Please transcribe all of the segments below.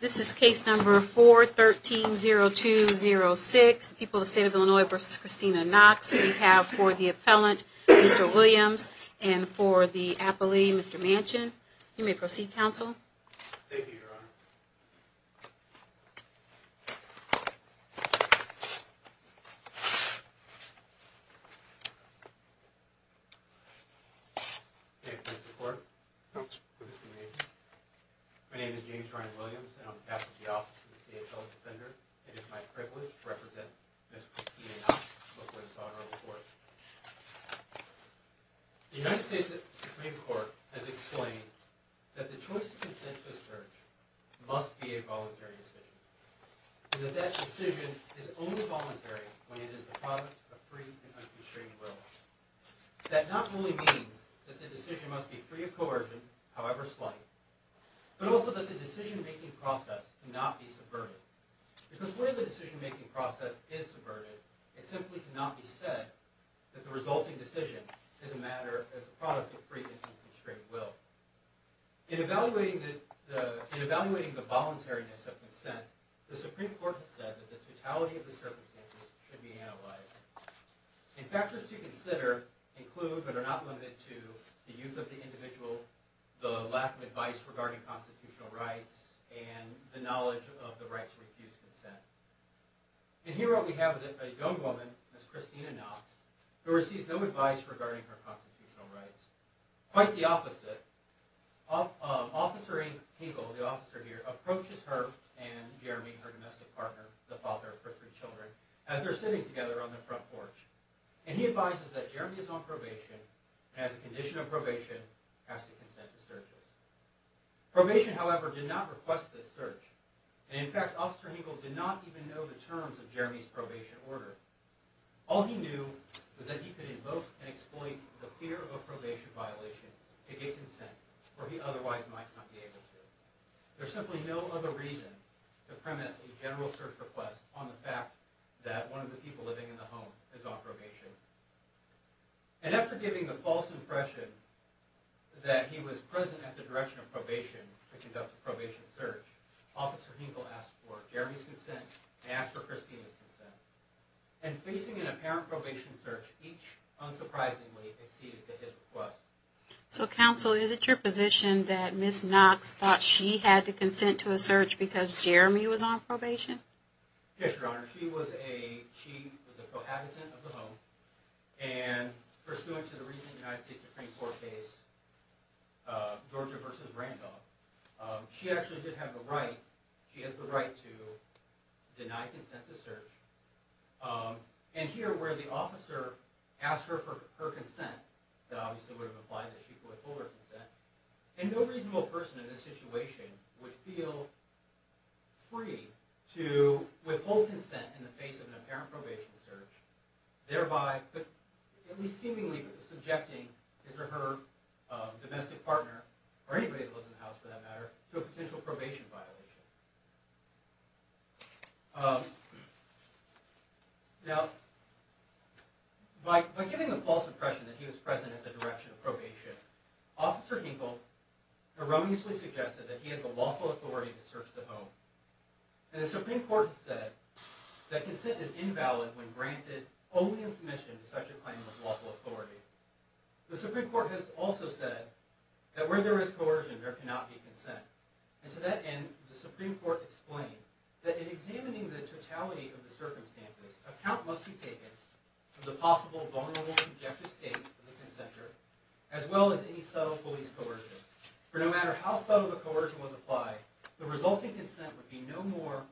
This is case number 413-0206, People of the State of Illinois v. Christina Knox. We have for the appellant, Mr. Williams, and for the appellee, Mr. Manchin. You may proceed, counsel. Thank you, Your Honor. May it please the Court, Mr. Manchin. My name is James Ryan Williams, and I'm captain of the Office of the State Appellant Defender. It is my privilege to represent Ms. Christina Knox before this honorable court. The United States Supreme Court has explained that the choice of consent to a search must be a voluntary decision, and that that decision is only voluntary when it is the product of free and unconstrained will. That not only means that the decision must be free of coercion, however slight, but also that the decision-making process cannot be subverted. Because where the decision-making process is subverted, it simply cannot be said that the resulting decision is a product of free and unconstrained will. In evaluating the voluntariness of consent, the Supreme Court has said that the totality of the circumstances should be analyzed. Factors to consider include, but are not limited to, the use of the individual, the lack of advice regarding constitutional rights, and the knowledge of the right to refuse consent. And here what we have is a young woman, Ms. Christina Knox, who receives no advice regarding her constitutional rights. Quite the opposite, Officer Hinkle, the officer here, approaches her and Jeremy, her domestic partner, the father of three children, as they're sitting together on the front porch. And he advises that Jeremy is on probation, and as a condition of probation, has to consent to searches. Probation, however, did not request this search, and in fact, Officer Hinkle did not even know the terms of Jeremy's probation order. All he knew was that he could invoke and exploit the fear of a probation violation to get consent, where he otherwise might not be able to. There's simply no other reason to premise a general search request on the fact that one of the people living in the home is on probation. And after giving the false impression that he was present at the direction of probation to conduct a probation search, Officer Hinkle asked for Jeremy's consent, and asked for Christina's consent. And facing an apparent probation search, each unsurprisingly exceeded his request. So, Counsel, is it your position that Ms. Knox thought she had to consent to a search because Jeremy was on probation? Yes, Your Honor. She was a cohabitant of the home, and pursuant to the recent United States Supreme Court case, Georgia v. Randolph, she actually did have the right, she has the right to deny consent to search. And here, where the officer asked her for her consent, that obviously would have implied that she could withhold her consent, and no reasonable person in this situation would feel free to withhold consent in the face of an apparent probation search, thereby, at least seemingly, subjecting his or her domestic partner, or anybody who lives in the house for that matter, to a potential probation violation. Now, by giving the false impression that he was present at the direction of probation, Officer Hinkle erroneously suggested that he had the lawful authority to search the home. And the Supreme Court has said that consent is invalid when granted only in submission to such a claim of lawful authority. The Supreme Court has also said that where there is coercion, there cannot be consent. And to that end, the Supreme Court explained that in examining the totality of the circumstances, a count must be taken of the possible vulnerable subjective states of the consenter, as well as any subtle police coercion. For no matter how subtle the coercion was applied, the resulting consent would be no more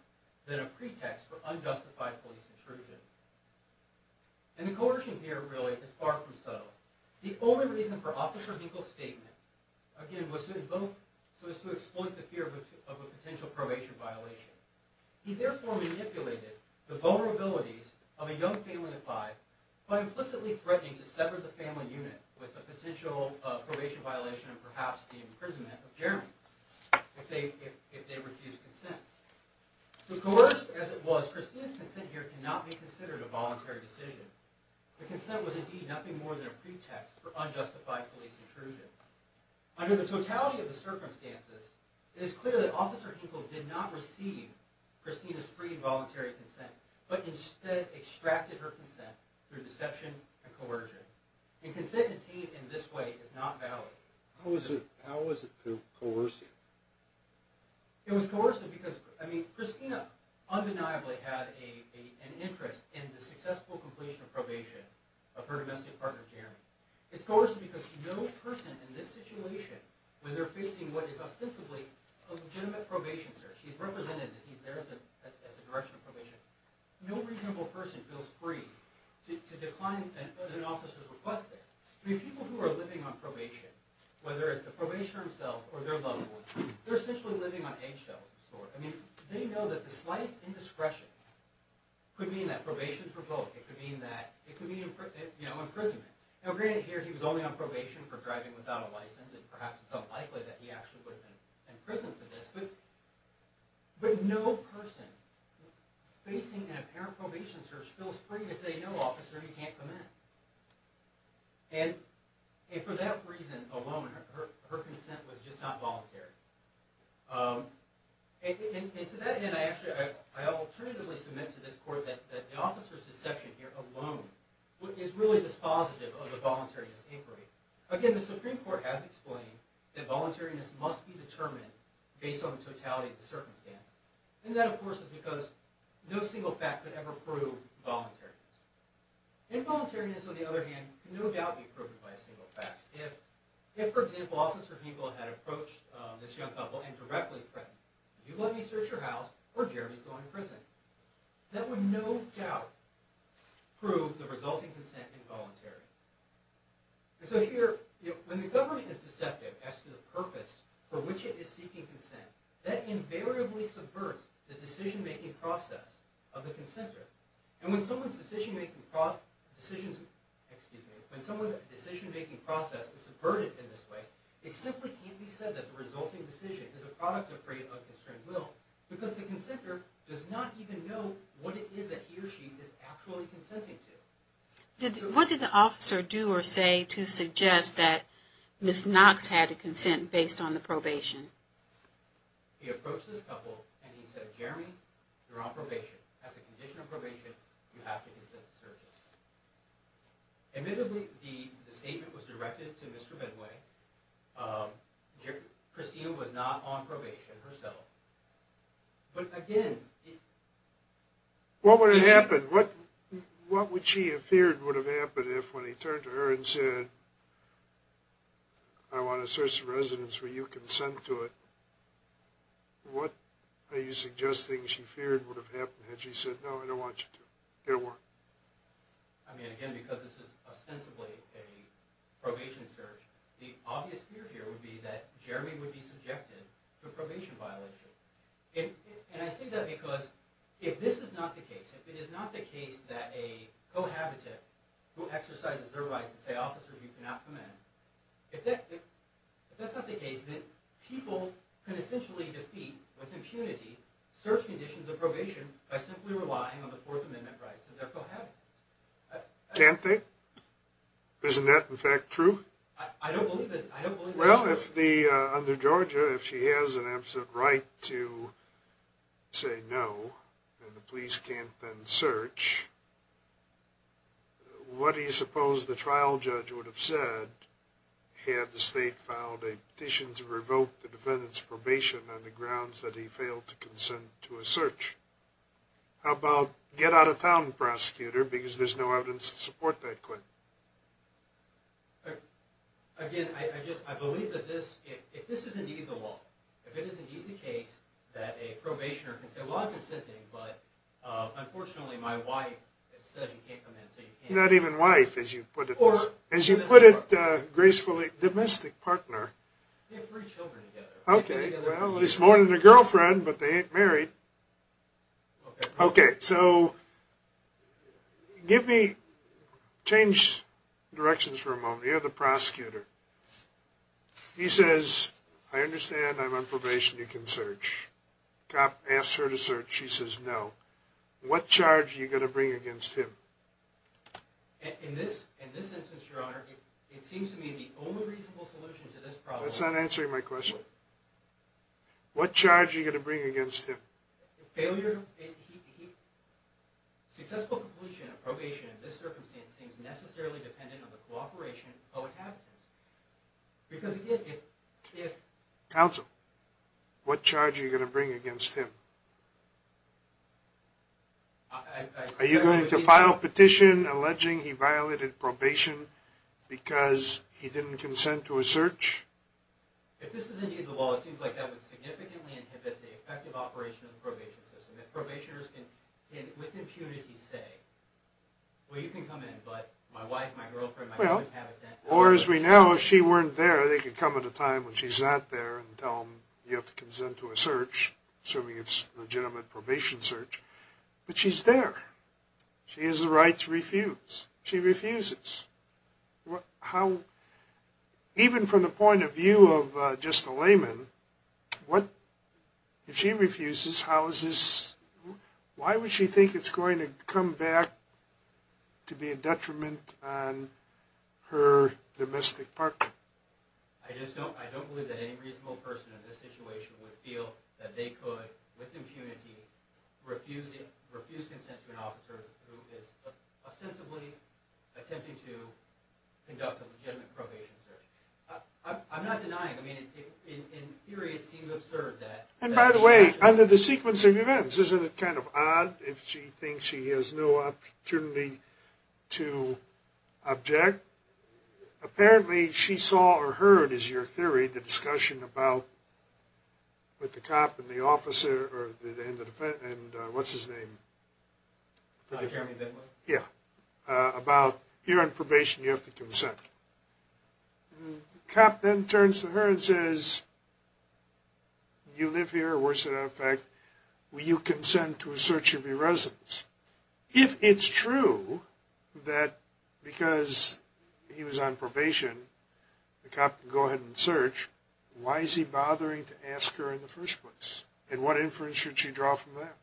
than a pretext for unjustified police intrusion. And the coercion here, really, is far from subtle. The only reason for Officer Hinkle's statement, again, was to exploit the fear of a potential probation violation. He therefore manipulated the vulnerabilities of a young family of five by implicitly threatening to sever the family unit with a potential probation violation and perhaps the imprisonment of Jeremy if they refused consent. To coerce, as it was, Christina's consent here cannot be considered a voluntary decision. The consent was indeed nothing more than a pretext for unjustified police intrusion. Under the totality of the circumstances, it is clear that Officer Hinkle did not receive Christina's free and voluntary consent, but instead extracted her consent through deception and coercion. And consent obtained in this way is not valid. How was it coercive? It was coercive because, I mean, Christina undeniably had an interest in the successful completion of probation of her domestic partner Jeremy. It's coercive because no person in this situation, when they're facing what is ostensibly a legitimate probation search, he's represented, he's there at the direction of probation, no reasonable person feels free to decline an officer's request there. I mean, people who are living on probation, whether it's the probationer himself or their loved ones, they're essentially living on eggshells. I mean, they know that the slightest indiscretion could mean that probation is revoked. It could mean imprisonment. Now, granted here he was only on probation for driving without a license, and perhaps it's unlikely that he actually would have been imprisoned for this, but no person facing an apparent probation search feels free to say, no, officer, you can't come in. And for that reason alone, her consent was just not voluntary. And to that end, I actually, I alternatively submit to this court that the officer's deception here alone is really dispositive of the voluntariness inquiry. Again, the Supreme Court has explained that voluntariness must be determined based on the totality of the circumstance. And that, of course, is because no single fact could ever prove voluntariness. And voluntariness, on the other hand, can no doubt be proven by a single fact. If, for example, Officer Heaple had approached this young couple and directly threatened, you let me search your house, or Jeremy's going to prison. That would no doubt prove the resulting consent involuntary. So here, when the government is deceptive as to the purpose for which it is seeking consent, that invariably subverts the decision-making process of the consentor. And when someone's decision-making process is subverted in this way, it simply can't be said that the resulting decision is a product of free and unconstrained will, because the consentor does not even know what it is that he or she is actually consenting to. What did the officer do or say to suggest that Ms. Knox had to consent based on the probation? He approached this couple and he said, Jeremy, you're on probation. As a condition of probation, you have to consent to search your house. Admittedly, the statement was directed to Mr. Benway. Christina was not on probation herself. But again... What would have happened? What would she have feared would have happened if, when he turned to her and said, I want to search the residence where you consent to it, what are you suggesting she feared would have happened? Had she said, no, I don't want you to. Get to work. I mean, again, because this is ostensibly a probation search, the obvious fear here would be that Jeremy would be subjected to probation violation. And I say that because if this is not the case, if it is not the case that a cohabitant who exercises their rights and say, officers, you cannot come in, if that's not the case, then people can essentially defeat, with impunity, search conditions of probation by simply relying on the Fourth Amendment rights of their cohabitants. Can't they? Isn't that, in fact, true? I don't believe that. Well, under Georgia, if she has an absolute right to say no, and the police can't then search, what do you suppose the trial judge would have said had the state filed a petition to revoke the defendant's probation on the grounds that he failed to consent to a search? How about get out of town, prosecutor, because there's no evidence to support that claim? Again, I believe that if this is indeed the law, if it is indeed the case that a probationer can say, well, I'm consenting, but unfortunately my wife says you can't come in, so you can't. Not even wife, as you put it. As you put it, gracefully, domestic partner. They have three children together. Okay, well, he's more than a girlfriend, but they ain't married. Okay, so give me, change directions for a moment. You're the prosecutor. He says, I understand I'm on probation, you can search. Cop asks her to search, she says no. What charge are you going to bring against him? In this instance, your honor, it seems to me the only reasonable solution to this problem That's not answering my question. What charge are you going to bring against him? Failure to... Successful completion of probation in this circumstance seems necessarily dependent on the cooperation of the co-inhabitants. Because again, if... Counsel, what charge are you going to bring against him? Are you going to file a petition alleging he violated probation because he didn't consent to a search? If this is in you, the law, it seems like that would significantly inhibit the effective operation of the probation system. If probationers can, with impunity, say well, you can come in, but my wife, my girlfriend, my co-inhabitant... Or as we know, if she weren't there, they could come at a time when she's not there and tell them you have to consent to a search, assuming it's a legitimate probation search. But she's there. She has the right to refuse. She refuses. How... Even from the point of view of just a layman, what... If she refuses, how is this... Why would she think it's going to come back to be a detriment on her domestic partner? I just don't... I don't believe that any reasonable person in this situation would feel that they could, with impunity, refuse consent to an officer who is ostensibly attempting to conduct a legitimate probation search. I'm not denying... I mean, in theory, it seems absurd that... And by the way, under the sequence of events, isn't it kind of odd if she thinks she has no opportunity to object? Apparently, she saw or heard, is your theory, the discussion about... And what's his name? Yeah. About, you're on probation, you have to consent. The cop then turns to her and says, you live here, or worse than that, in fact, will you consent to a search of your residence? If it's true that because he was on probation, the cop can go ahead and search, why is he bothering to ask her in the first place? And what inference should she draw from that?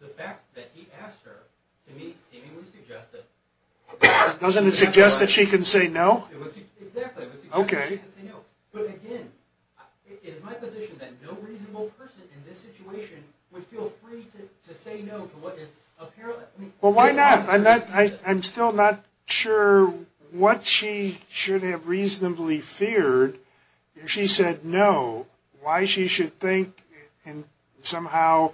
The fact that he asked her, to me, seemingly suggested... Doesn't it suggest that she can say no? Exactly, it would suggest that she can say no. But again, it is my position that no reasonable person in this situation would feel free to say no to what is apparently... Well, why not? I'm still not sure what she should have reasonably feared if she said no, why she should think somehow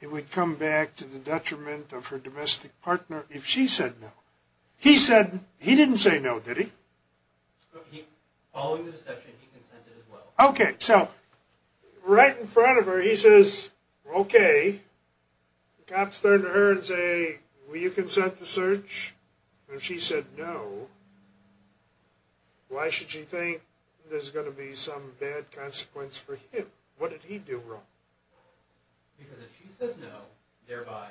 it would come back to the detriment of her domestic partner if she said no. He said, he didn't say no, did he? Following the discussion, he consented as well. Okay, so, right in front of her, he says, okay. The cop turned to her and said, will you consent to search? And if she said no, why should she think there's going to be some bad consequence for him? What did he do wrong? Because if she says no, thereby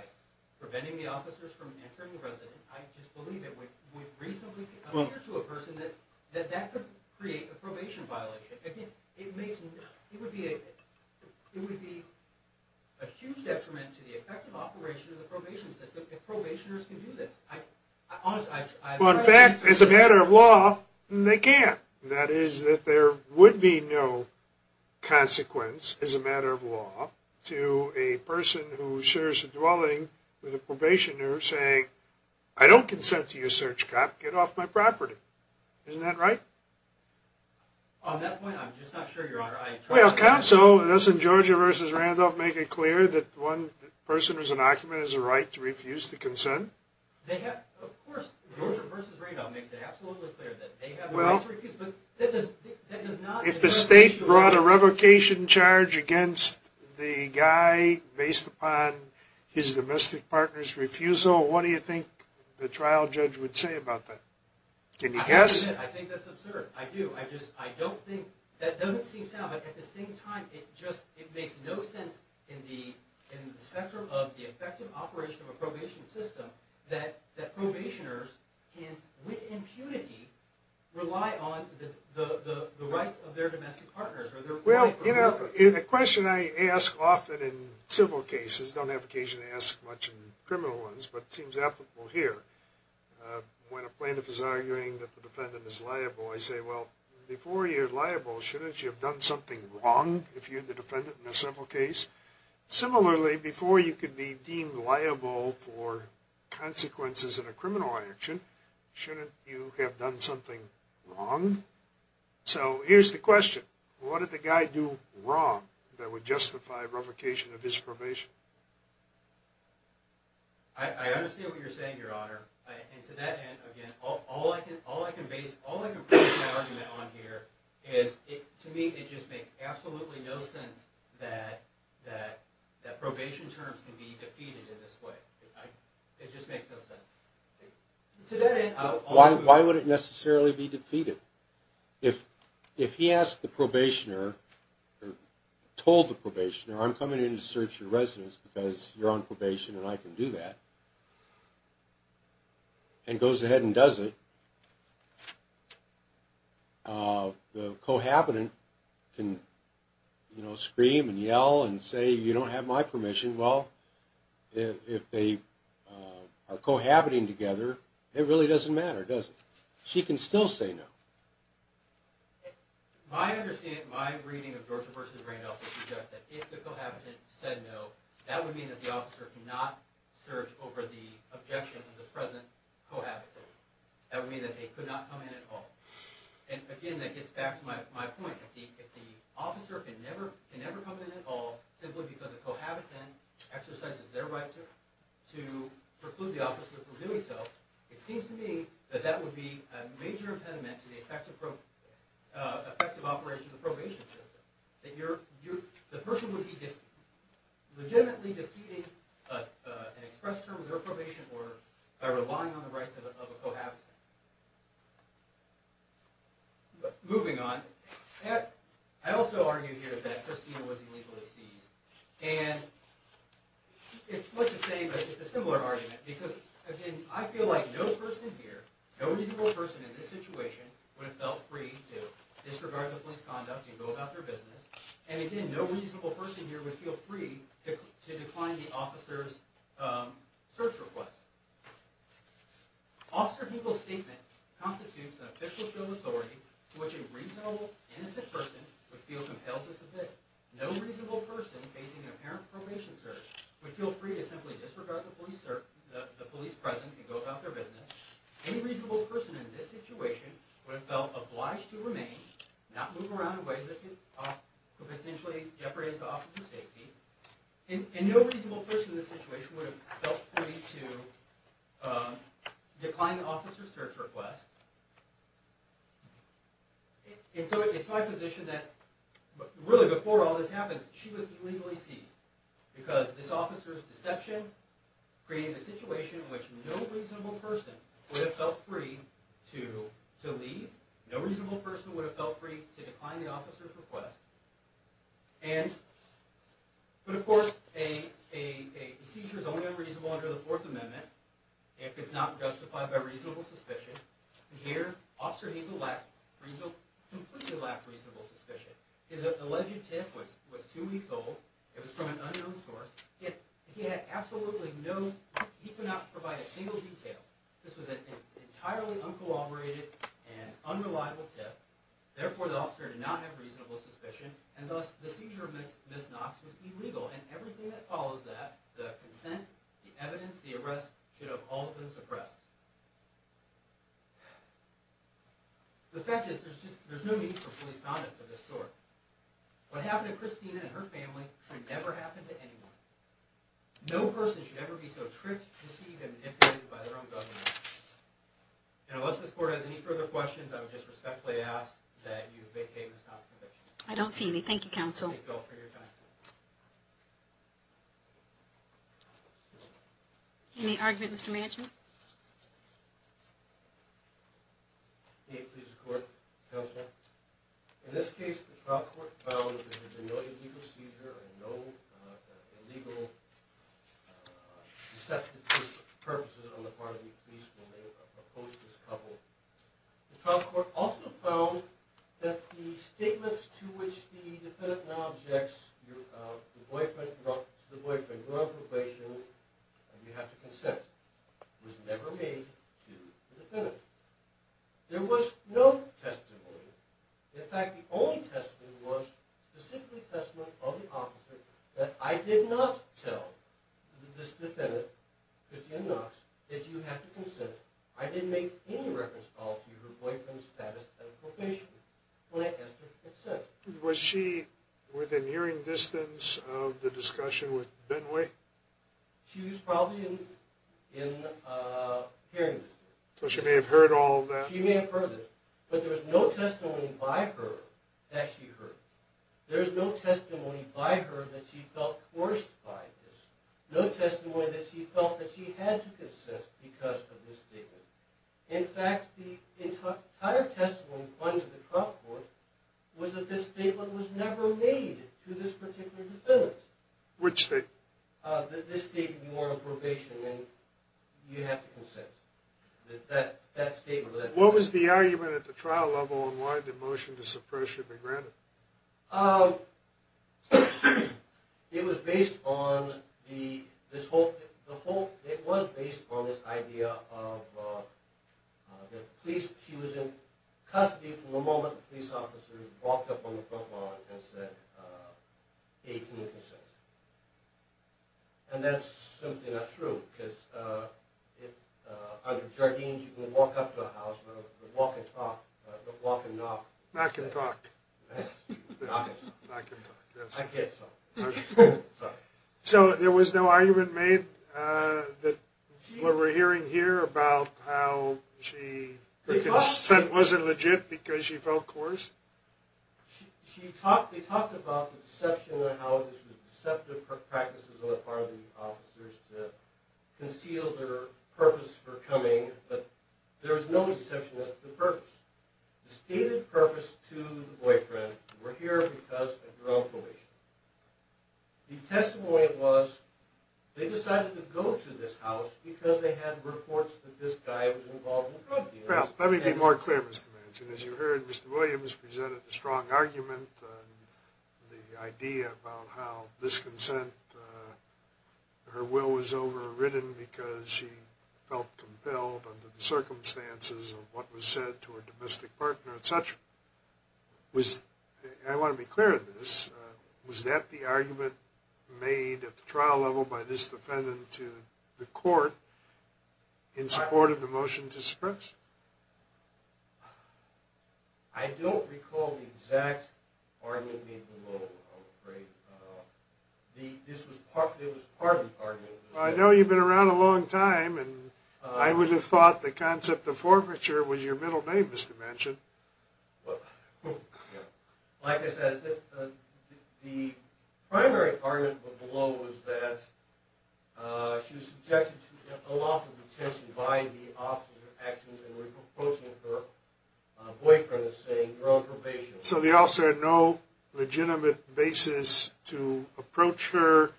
preventing the officers from entering the residence, I just believe it would reasonably appear to a person that that could create a probation violation. It would be a huge detriment to the effective operation of the probation system if probationers can do this. Well, in fact, as a matter of law, they can't. That is, that there would be no consequence as a matter of law to a person who shares a dwelling with a probationer saying, I don't consent to your search, cop. Get off my property. Isn't that right? On that point, I'm just not sure, Your Honor. Well, counsel, doesn't Georgia v. Randolph make it clear that one person who's an occupant has a right to refuse to consent? They have. Of course, Georgia v. Randolph makes it absolutely clear that they have the right to refuse, but that does not... If the state brought a revocation charge against the guy based upon his domestic partner's refusal, what do you think the trial judge would say about that? Can you guess? I think that's absurd. I do. I don't think... That doesn't seem sound, but at the same time, it just makes no sense in the spectrum of the effective operation of a probation system that probationers can, with impunity, rely on the rights of their domestic partners. Well, a question I ask often in civil cases, I don't have occasion to ask much in criminal ones, but it seems applicable here. When a plaintiff is arguing that the defendant is liable, I say, well, before you're liable, shouldn't you have done something wrong if you're the defendant in a civil case? Similarly, before you could be deemed liable for consequences in a criminal action, shouldn't you have done something wrong? So here's the question. What did the guy do wrong that would justify revocation of his probation? I understand what you're saying, Your Honor. And to that end, again, all I can base my argument on here is to me it just makes absolutely no sense that probation terms can be defeated in this way. It just makes no sense. Why would it necessarily be defeated? If he asked the probationer or told the probationer, I'm coming in to search your residence because you're on probation and I can do that, and goes ahead and does it, the cohabitant can, you know, scream and yell and say, you don't have my permission. Well, if they are cohabiting together, it really doesn't matter, does it? She can still say no. My understanding, my reading of Georgia v. Randolph would suggest that if the cohabitant said no, that would mean that the officer could not search over the objection of the present cohabitant. That would mean that they could not come in at all. And, again, that gets back to my point. If the officer can never come in at all simply because a cohabitant exercises their right to preclude the officer from doing so, it seems to me that that would be a major impediment to the effective operation of the probation system. That the person would be legitimately defeating an express term of their probation order by relying on the rights of a cohabitant. Moving on, I also argue here that Christina was illegally seized. And it's worth saying that it's a similar argument because, again, I feel like no person here, no reasonable person in this situation would have felt free to disregard the police conduct and go about their business. And, again, no reasonable person here would feel free to decline the officer's search request. Officer Hegel's statement constitutes an official show of authority to which a reasonable, innocent person would feel compelled to submit. No reasonable person facing an apparent probation search would feel free to simply disregard the police presence and go about their business. Any reasonable person in this situation would have felt obliged to remain, not move around in ways that could potentially jeopardize the officer's safety. And no reasonable person in this situation would have felt free to decline the officer's search request. And so it's my position that, really, before all this happened, she was illegally seized. Because this officer's deception created a situation in which no reasonable person would have felt free to leave. No reasonable person would have felt free to decline the officer's request. But, of course, a seizure is only unreasonable under the Fourth Amendment if it's not justified by reasonable suspicion. And here, Officer Hegel completely lacked reasonable suspicion. His alleged tip was two weeks old. It was from an unknown source. Yet, he had absolutely no, he could not provide a single detail. This was an entirely uncorroborated and unreliable tip. Therefore, the officer did not have reasonable suspicion. And, thus, the seizure of Ms. Knox was illegal. And everything that follows that, the consent, the evidence, the arrest, should have all been suppressed. The fact is, there's no need for police conduct of this sort. What happened to Christina and her family should never happen to anyone. No person should ever be so tricked, deceived, and manipulated by their own government. And unless this Court has any further questions, I would just respectfully ask that you vacate Ms. Knox's conviction. I don't see any. Thank you, Counsel. Thank you all for your time. Any argument, Mr. Manchin? Yes, please, Court, Counsel. In this case, the trial court found that there had been no illegal seizure, and no illegal deceptive purposes on the part of the police when they opposed this couple. The trial court also found that the statements to which the defendant now objects, your boyfriend, you're on probation, and you have to consent, was never made to the defendant. There was no testimony. In fact, the only testimony was the simply testimony of the officer that I did not tell this defendant, Christina Knox, that you have to consent. I didn't make any reference calls to your boyfriend's status at probation when I asked her to consent. Was she within hearing distance of the discussion with Benway? She was probably in hearing distance. So she may have heard all of that? She may have heard it. But there was no testimony by her that she heard. There was no testimony by her that she felt coerced by this. No testimony that she felt that she had to consent because of this statement. In fact, the entire testimony found in the trial court was that this statement was never made to this particular defendant. Which statement? That this statement, you're on probation, and you have to consent. What was the argument at the trial level on why the motion to suppress should be granted? It was based on this idea that she was in custody from the moment the police officer walked up on the front lawn and said, Hey, can you consent? And that's simply not true because under Jardines, you can walk up to a house, walk and talk, but walk and knock. Knock and talk. Knock and talk. I can't talk. So there was no argument made that what we're hearing here about how she consent wasn't legit because she felt coerced? They talked about the deception and how this was deceptive practices on the part of the officers to conceal their purpose for coming, but there was no deception as to the purpose. The stated purpose to the boyfriend were here because of their own probation. The testimony was they decided to go to this house because they had reports that this guy was involved in drug deals. Well, let me be more clear, Mr. Manchin. As you heard, Mr. Williams presented a strong argument on the idea about how this consent, her will was overridden because she felt compelled under the circumstances of what was said to her domestic partner, et cetera. I want to be clear on this. Was that the argument made at the trial level by this defendant to the court in support of the motion to suppress? I don't recall the exact argument made below, I'm afraid. This was part of the argument. I know you've been around a long time, and I would have thought the concept of forfeiture was your middle name, Mr. Manchin. Like I said, the primary argument below was that she was subjected to unlawful detention by the officer's actions in approaching her boyfriend and saying, you're on probation. So the officer had no legitimate basis to approach her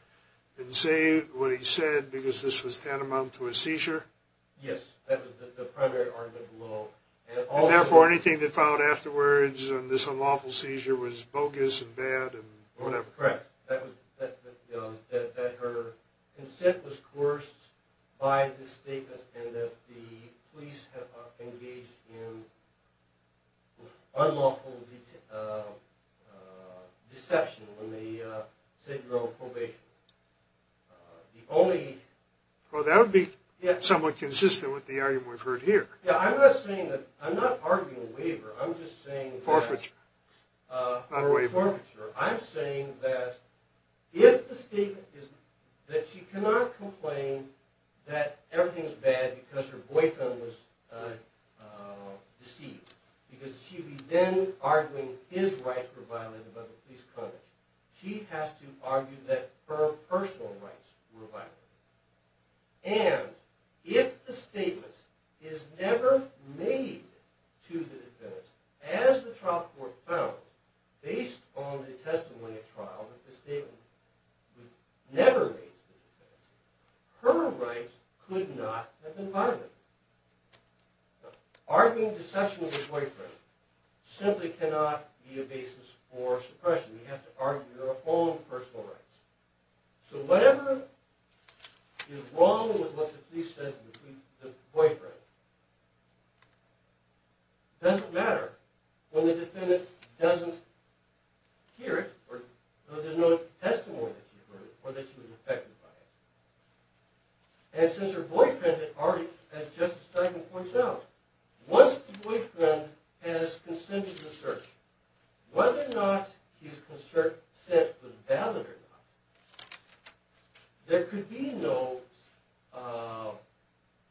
and say what he said because this was tantamount to a seizure? Yes, that was the primary argument below. And therefore, anything that followed afterwards on this unlawful seizure was bogus and bad and whatever? Correct. That her consent was coerced by this statement and that the police engaged in unlawful deception when they said you're on probation. Well, that would be somewhat consistent with the argument we've heard here. I'm not arguing a waiver. Forfeiture, not a waiver. Forfeiture. I'm saying that if the statement is that she cannot complain that everything is bad because her boyfriend was deceived, because she would be then arguing his rights were violated by the police conduct, she has to argue that her personal rights were violated. And if the statement is never made to the defendant, as the trial court found, based on the testimony at trial, that the statement was never made to the defendant, her rights could not have been violated. Arguing deception with your boyfriend simply cannot be a basis for suppression. You have to argue your own personal rights. So whatever is wrong with what the police said to the boyfriend doesn't matter when the defendant doesn't hear it or there's no testimony that she heard or that she was affected by it. And since her boyfriend, as Justice Steinman points out, once the boyfriend has consented to the search, whether or not his consent was valid or not, there could be no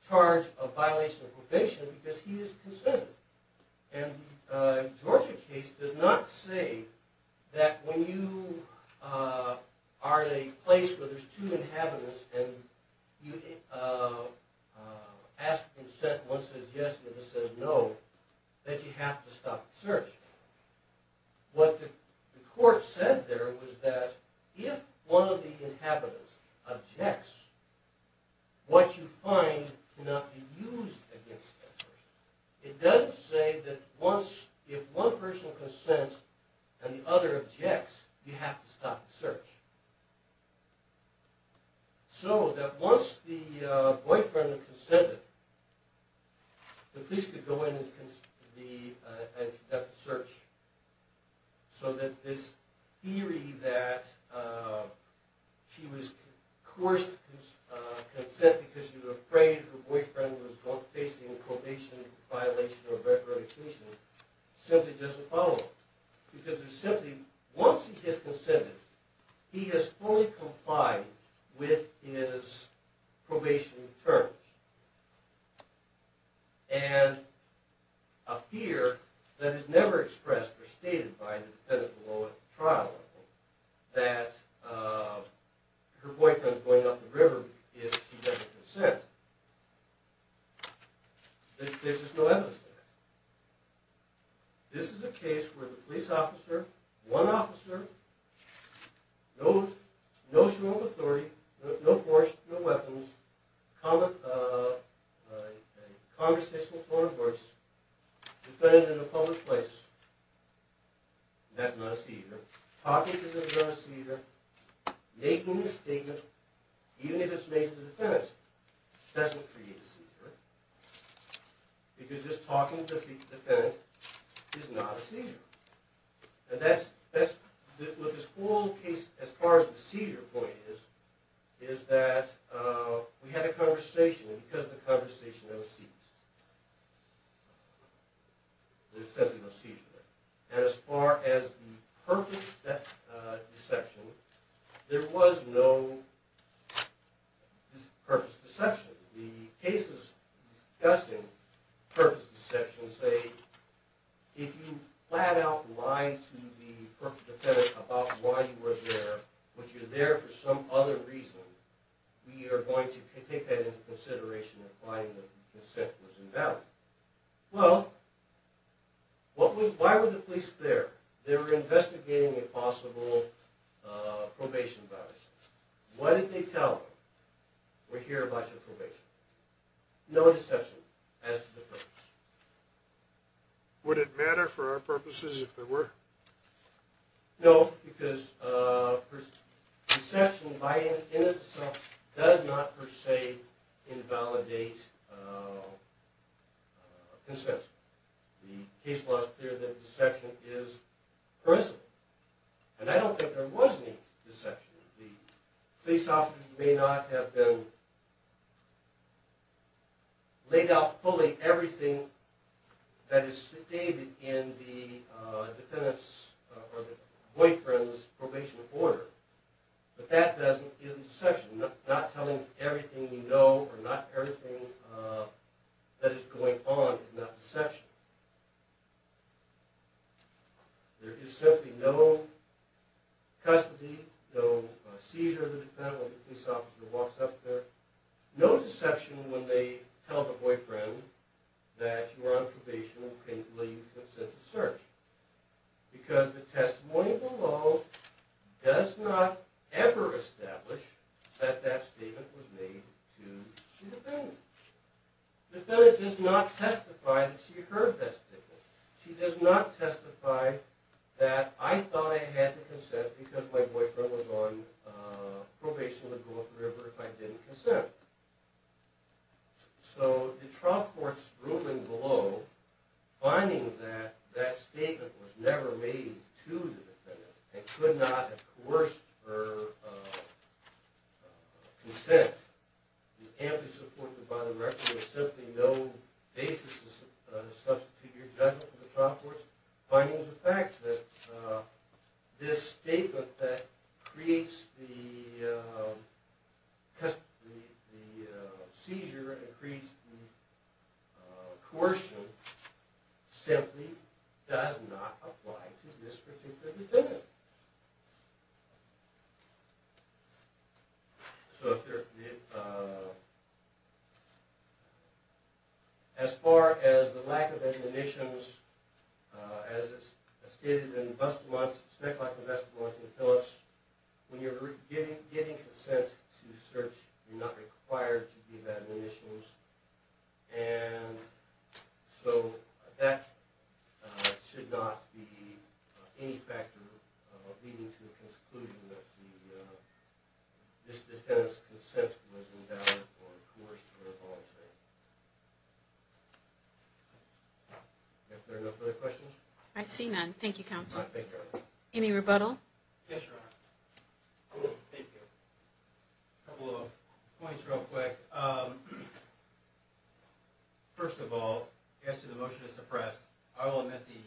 charge of violation of probation because he is consented. And the Georgia case does not say that when you are in a place where there's two inhabitants and one says yes and the other says no, that you have to stop the search. What the court said there was that if one of the inhabitants objects, what you find cannot be used against that person. It doesn't say that if one person consents and the other objects, you have to stop the search. So that once the boyfriend consented, the police could go in and conduct the search. So that this theory that she was coerced to consent because she was afraid her boyfriend was facing a probation violation or recreditation simply doesn't follow. Because there's simply, once he has consented, he has fully complied with his probation terms. And a fear that is never expressed or stated by the defendant below at the trial level, that her boyfriend is going up the river if she doesn't consent, there's just no evidence there. This is a case where the police officer, one officer, no show of authority, no force, no weapons, conversational tone of voice, defendant in a public place, that's not a cedar. Talking to them is not a cedar. Making a statement, even if it's made to the defendant, doesn't create a cedar. Because just talking to the defendant is not a cedar. And that's what this whole case, as far as the cedar point is, is that we had a conversation, and because of the conversation, there was cedar. There's simply no cedar there. And as far as the purpose of that deception, there was no purpose of deception. The case is discussing purpose of deception. Say, if you flat out lie to the purpose defendant about why you were there, but you're there for some other reason, we are going to take that into consideration and find that the consent was invalid. Well, why were the police there? They were investigating a possible probation violation. What did they tell them? We're here about your probation. No deception as to the purpose. Would it matter for our purposes if there were? No, because deception in itself does not per se invalidate consent. The case law is clear that deception is personal. And I don't think there was any deception. The police officers may not have laid out fully everything that is stated in the boyfriend's probation order, but that isn't deception. Not telling everything you know or not everything that is going on is not deception. There is simply no custody, no seizure of the defendant when the police officer walks up there, no deception when they tell the boyfriend that you are on probation and can't leave consent to search, because the testimony below does not ever establish that that statement was made to the defendant. The defendant does not testify that she heard that statement. She does not testify that I thought I had to consent because my boyfriend was on probation in the Gulf River if I didn't consent. So the trial court's ruling below, finding that that statement was never made to the defendant, and could not have coerced her consent, and to support the bottom record, there is simply no basis to substitute your judgment in the trial court's findings or facts that this statement that creates the seizure and creates the coercion simply does not apply to this particular defendant. As far as the lack of admonitions, as it's stated in the Best of Months, when you're giving consent to search, you're not required to give admonitions, and so that should not be any factor of leading to the conclusion that this defendant's consent was endowed or coerced or voluntary. Are there no further questions? I see none. Thank you, Counsel. Any rebuttal? Yes, Your Honor. Thank you. A couple of points real quick. First of all, as to the motion to suppress, I will admit the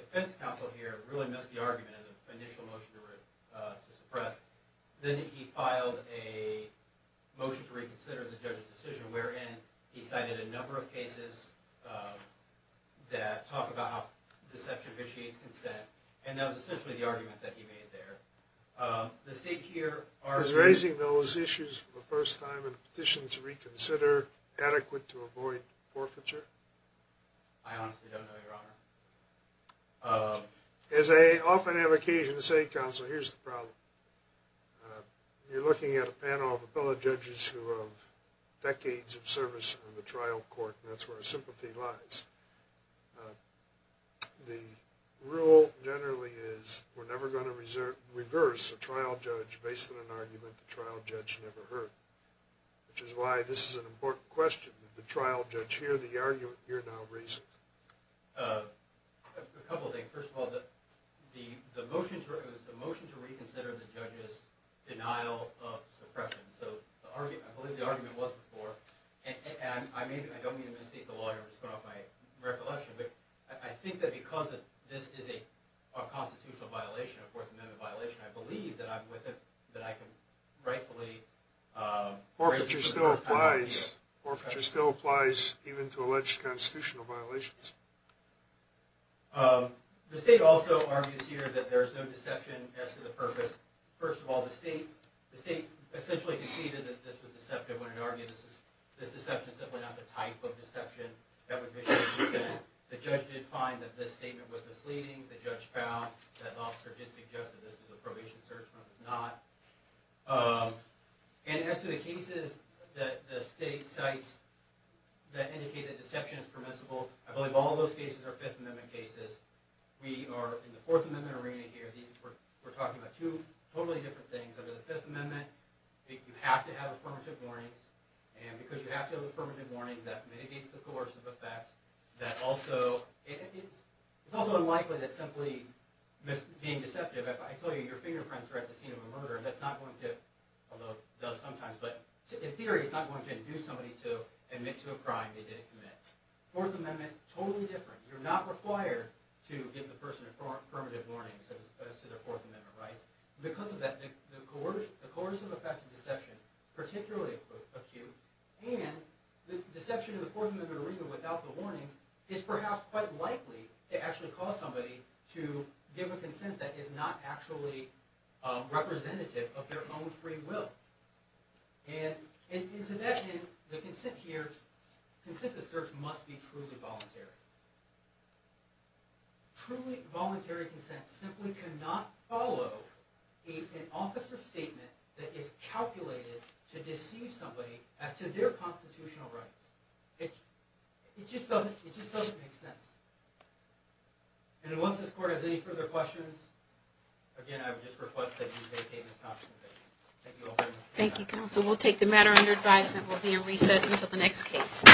defense counsel here really missed the argument in the initial motion to suppress. Then he filed a motion to reconsider the judge's decision, wherein he cited a number of cases that talk about how deception vitiates consent, and that was essentially the argument that he made there. Is raising those issues for the first time in a petition to reconsider adequate to avoid forfeiture? I honestly don't know, Your Honor. As I often have occasion to say, Counsel, here's the problem. You're looking at a panel of appellate judges who have decades of service in the trial court, and that's where our sympathy lies. The rule generally is we're never going to reverse a trial judge based on an argument the trial judge never heard, which is why this is an important question. Did the trial judge hear the argument? Hear no reason. A couple of things. First of all, the motion to reconsider the judge's denial of suppression. I believe the argument was before. I don't mean to mislead the lawyer by throwing off my recollection, but I think that because this is a constitutional violation, a Fourth Amendment violation, I believe that I'm with it, that I can rightfully raise it for the first time. Forfeiture still applies even to alleged constitutional violations. The state also argues here that there is no deception as to the purpose. First of all, the state essentially conceded that this was deceptive when it argued that this deception is simply not the type of deception that would mislead the Senate. The judge did find that this statement was misleading. The judge found that the officer did suggest that this was a probation search, but it was not. As to the cases that the state cites that indicate that deception is permissible, I believe all those cases are Fifth Amendment cases. We are in the Fourth Amendment arena here. We're talking about two totally different things. Under the Fifth Amendment, you have to have affirmative warnings. And because you have to have affirmative warnings, that mitigates the coercive effect. It's also unlikely that simply being deceptive, if I tell you your fingerprints are at the scene of a murder, that's not going to, although it does sometimes, but in theory it's not going to induce somebody to admit to a crime they didn't commit. Fourth Amendment, totally different. You're not required to give the person affirmative warnings as to their Fourth Amendment rights. Because of that, the coercive effect of deception, particularly acute, and the deception in the Fourth Amendment arena without the warnings, is perhaps quite likely to actually cause somebody to give a consent that is not actually representative of their own free will. And to that end, the consent here, consent to search must be truly voluntary. Truly voluntary consent simply cannot follow an officer's statement that is calculated to deceive somebody as to their constitutional rights. It just doesn't make sense. And once this court has any further questions, again, I would just request that you maintain this consultation. Thank you all very much. Thank you, counsel. We'll take the matter under advisement. We'll be in recess until the next case.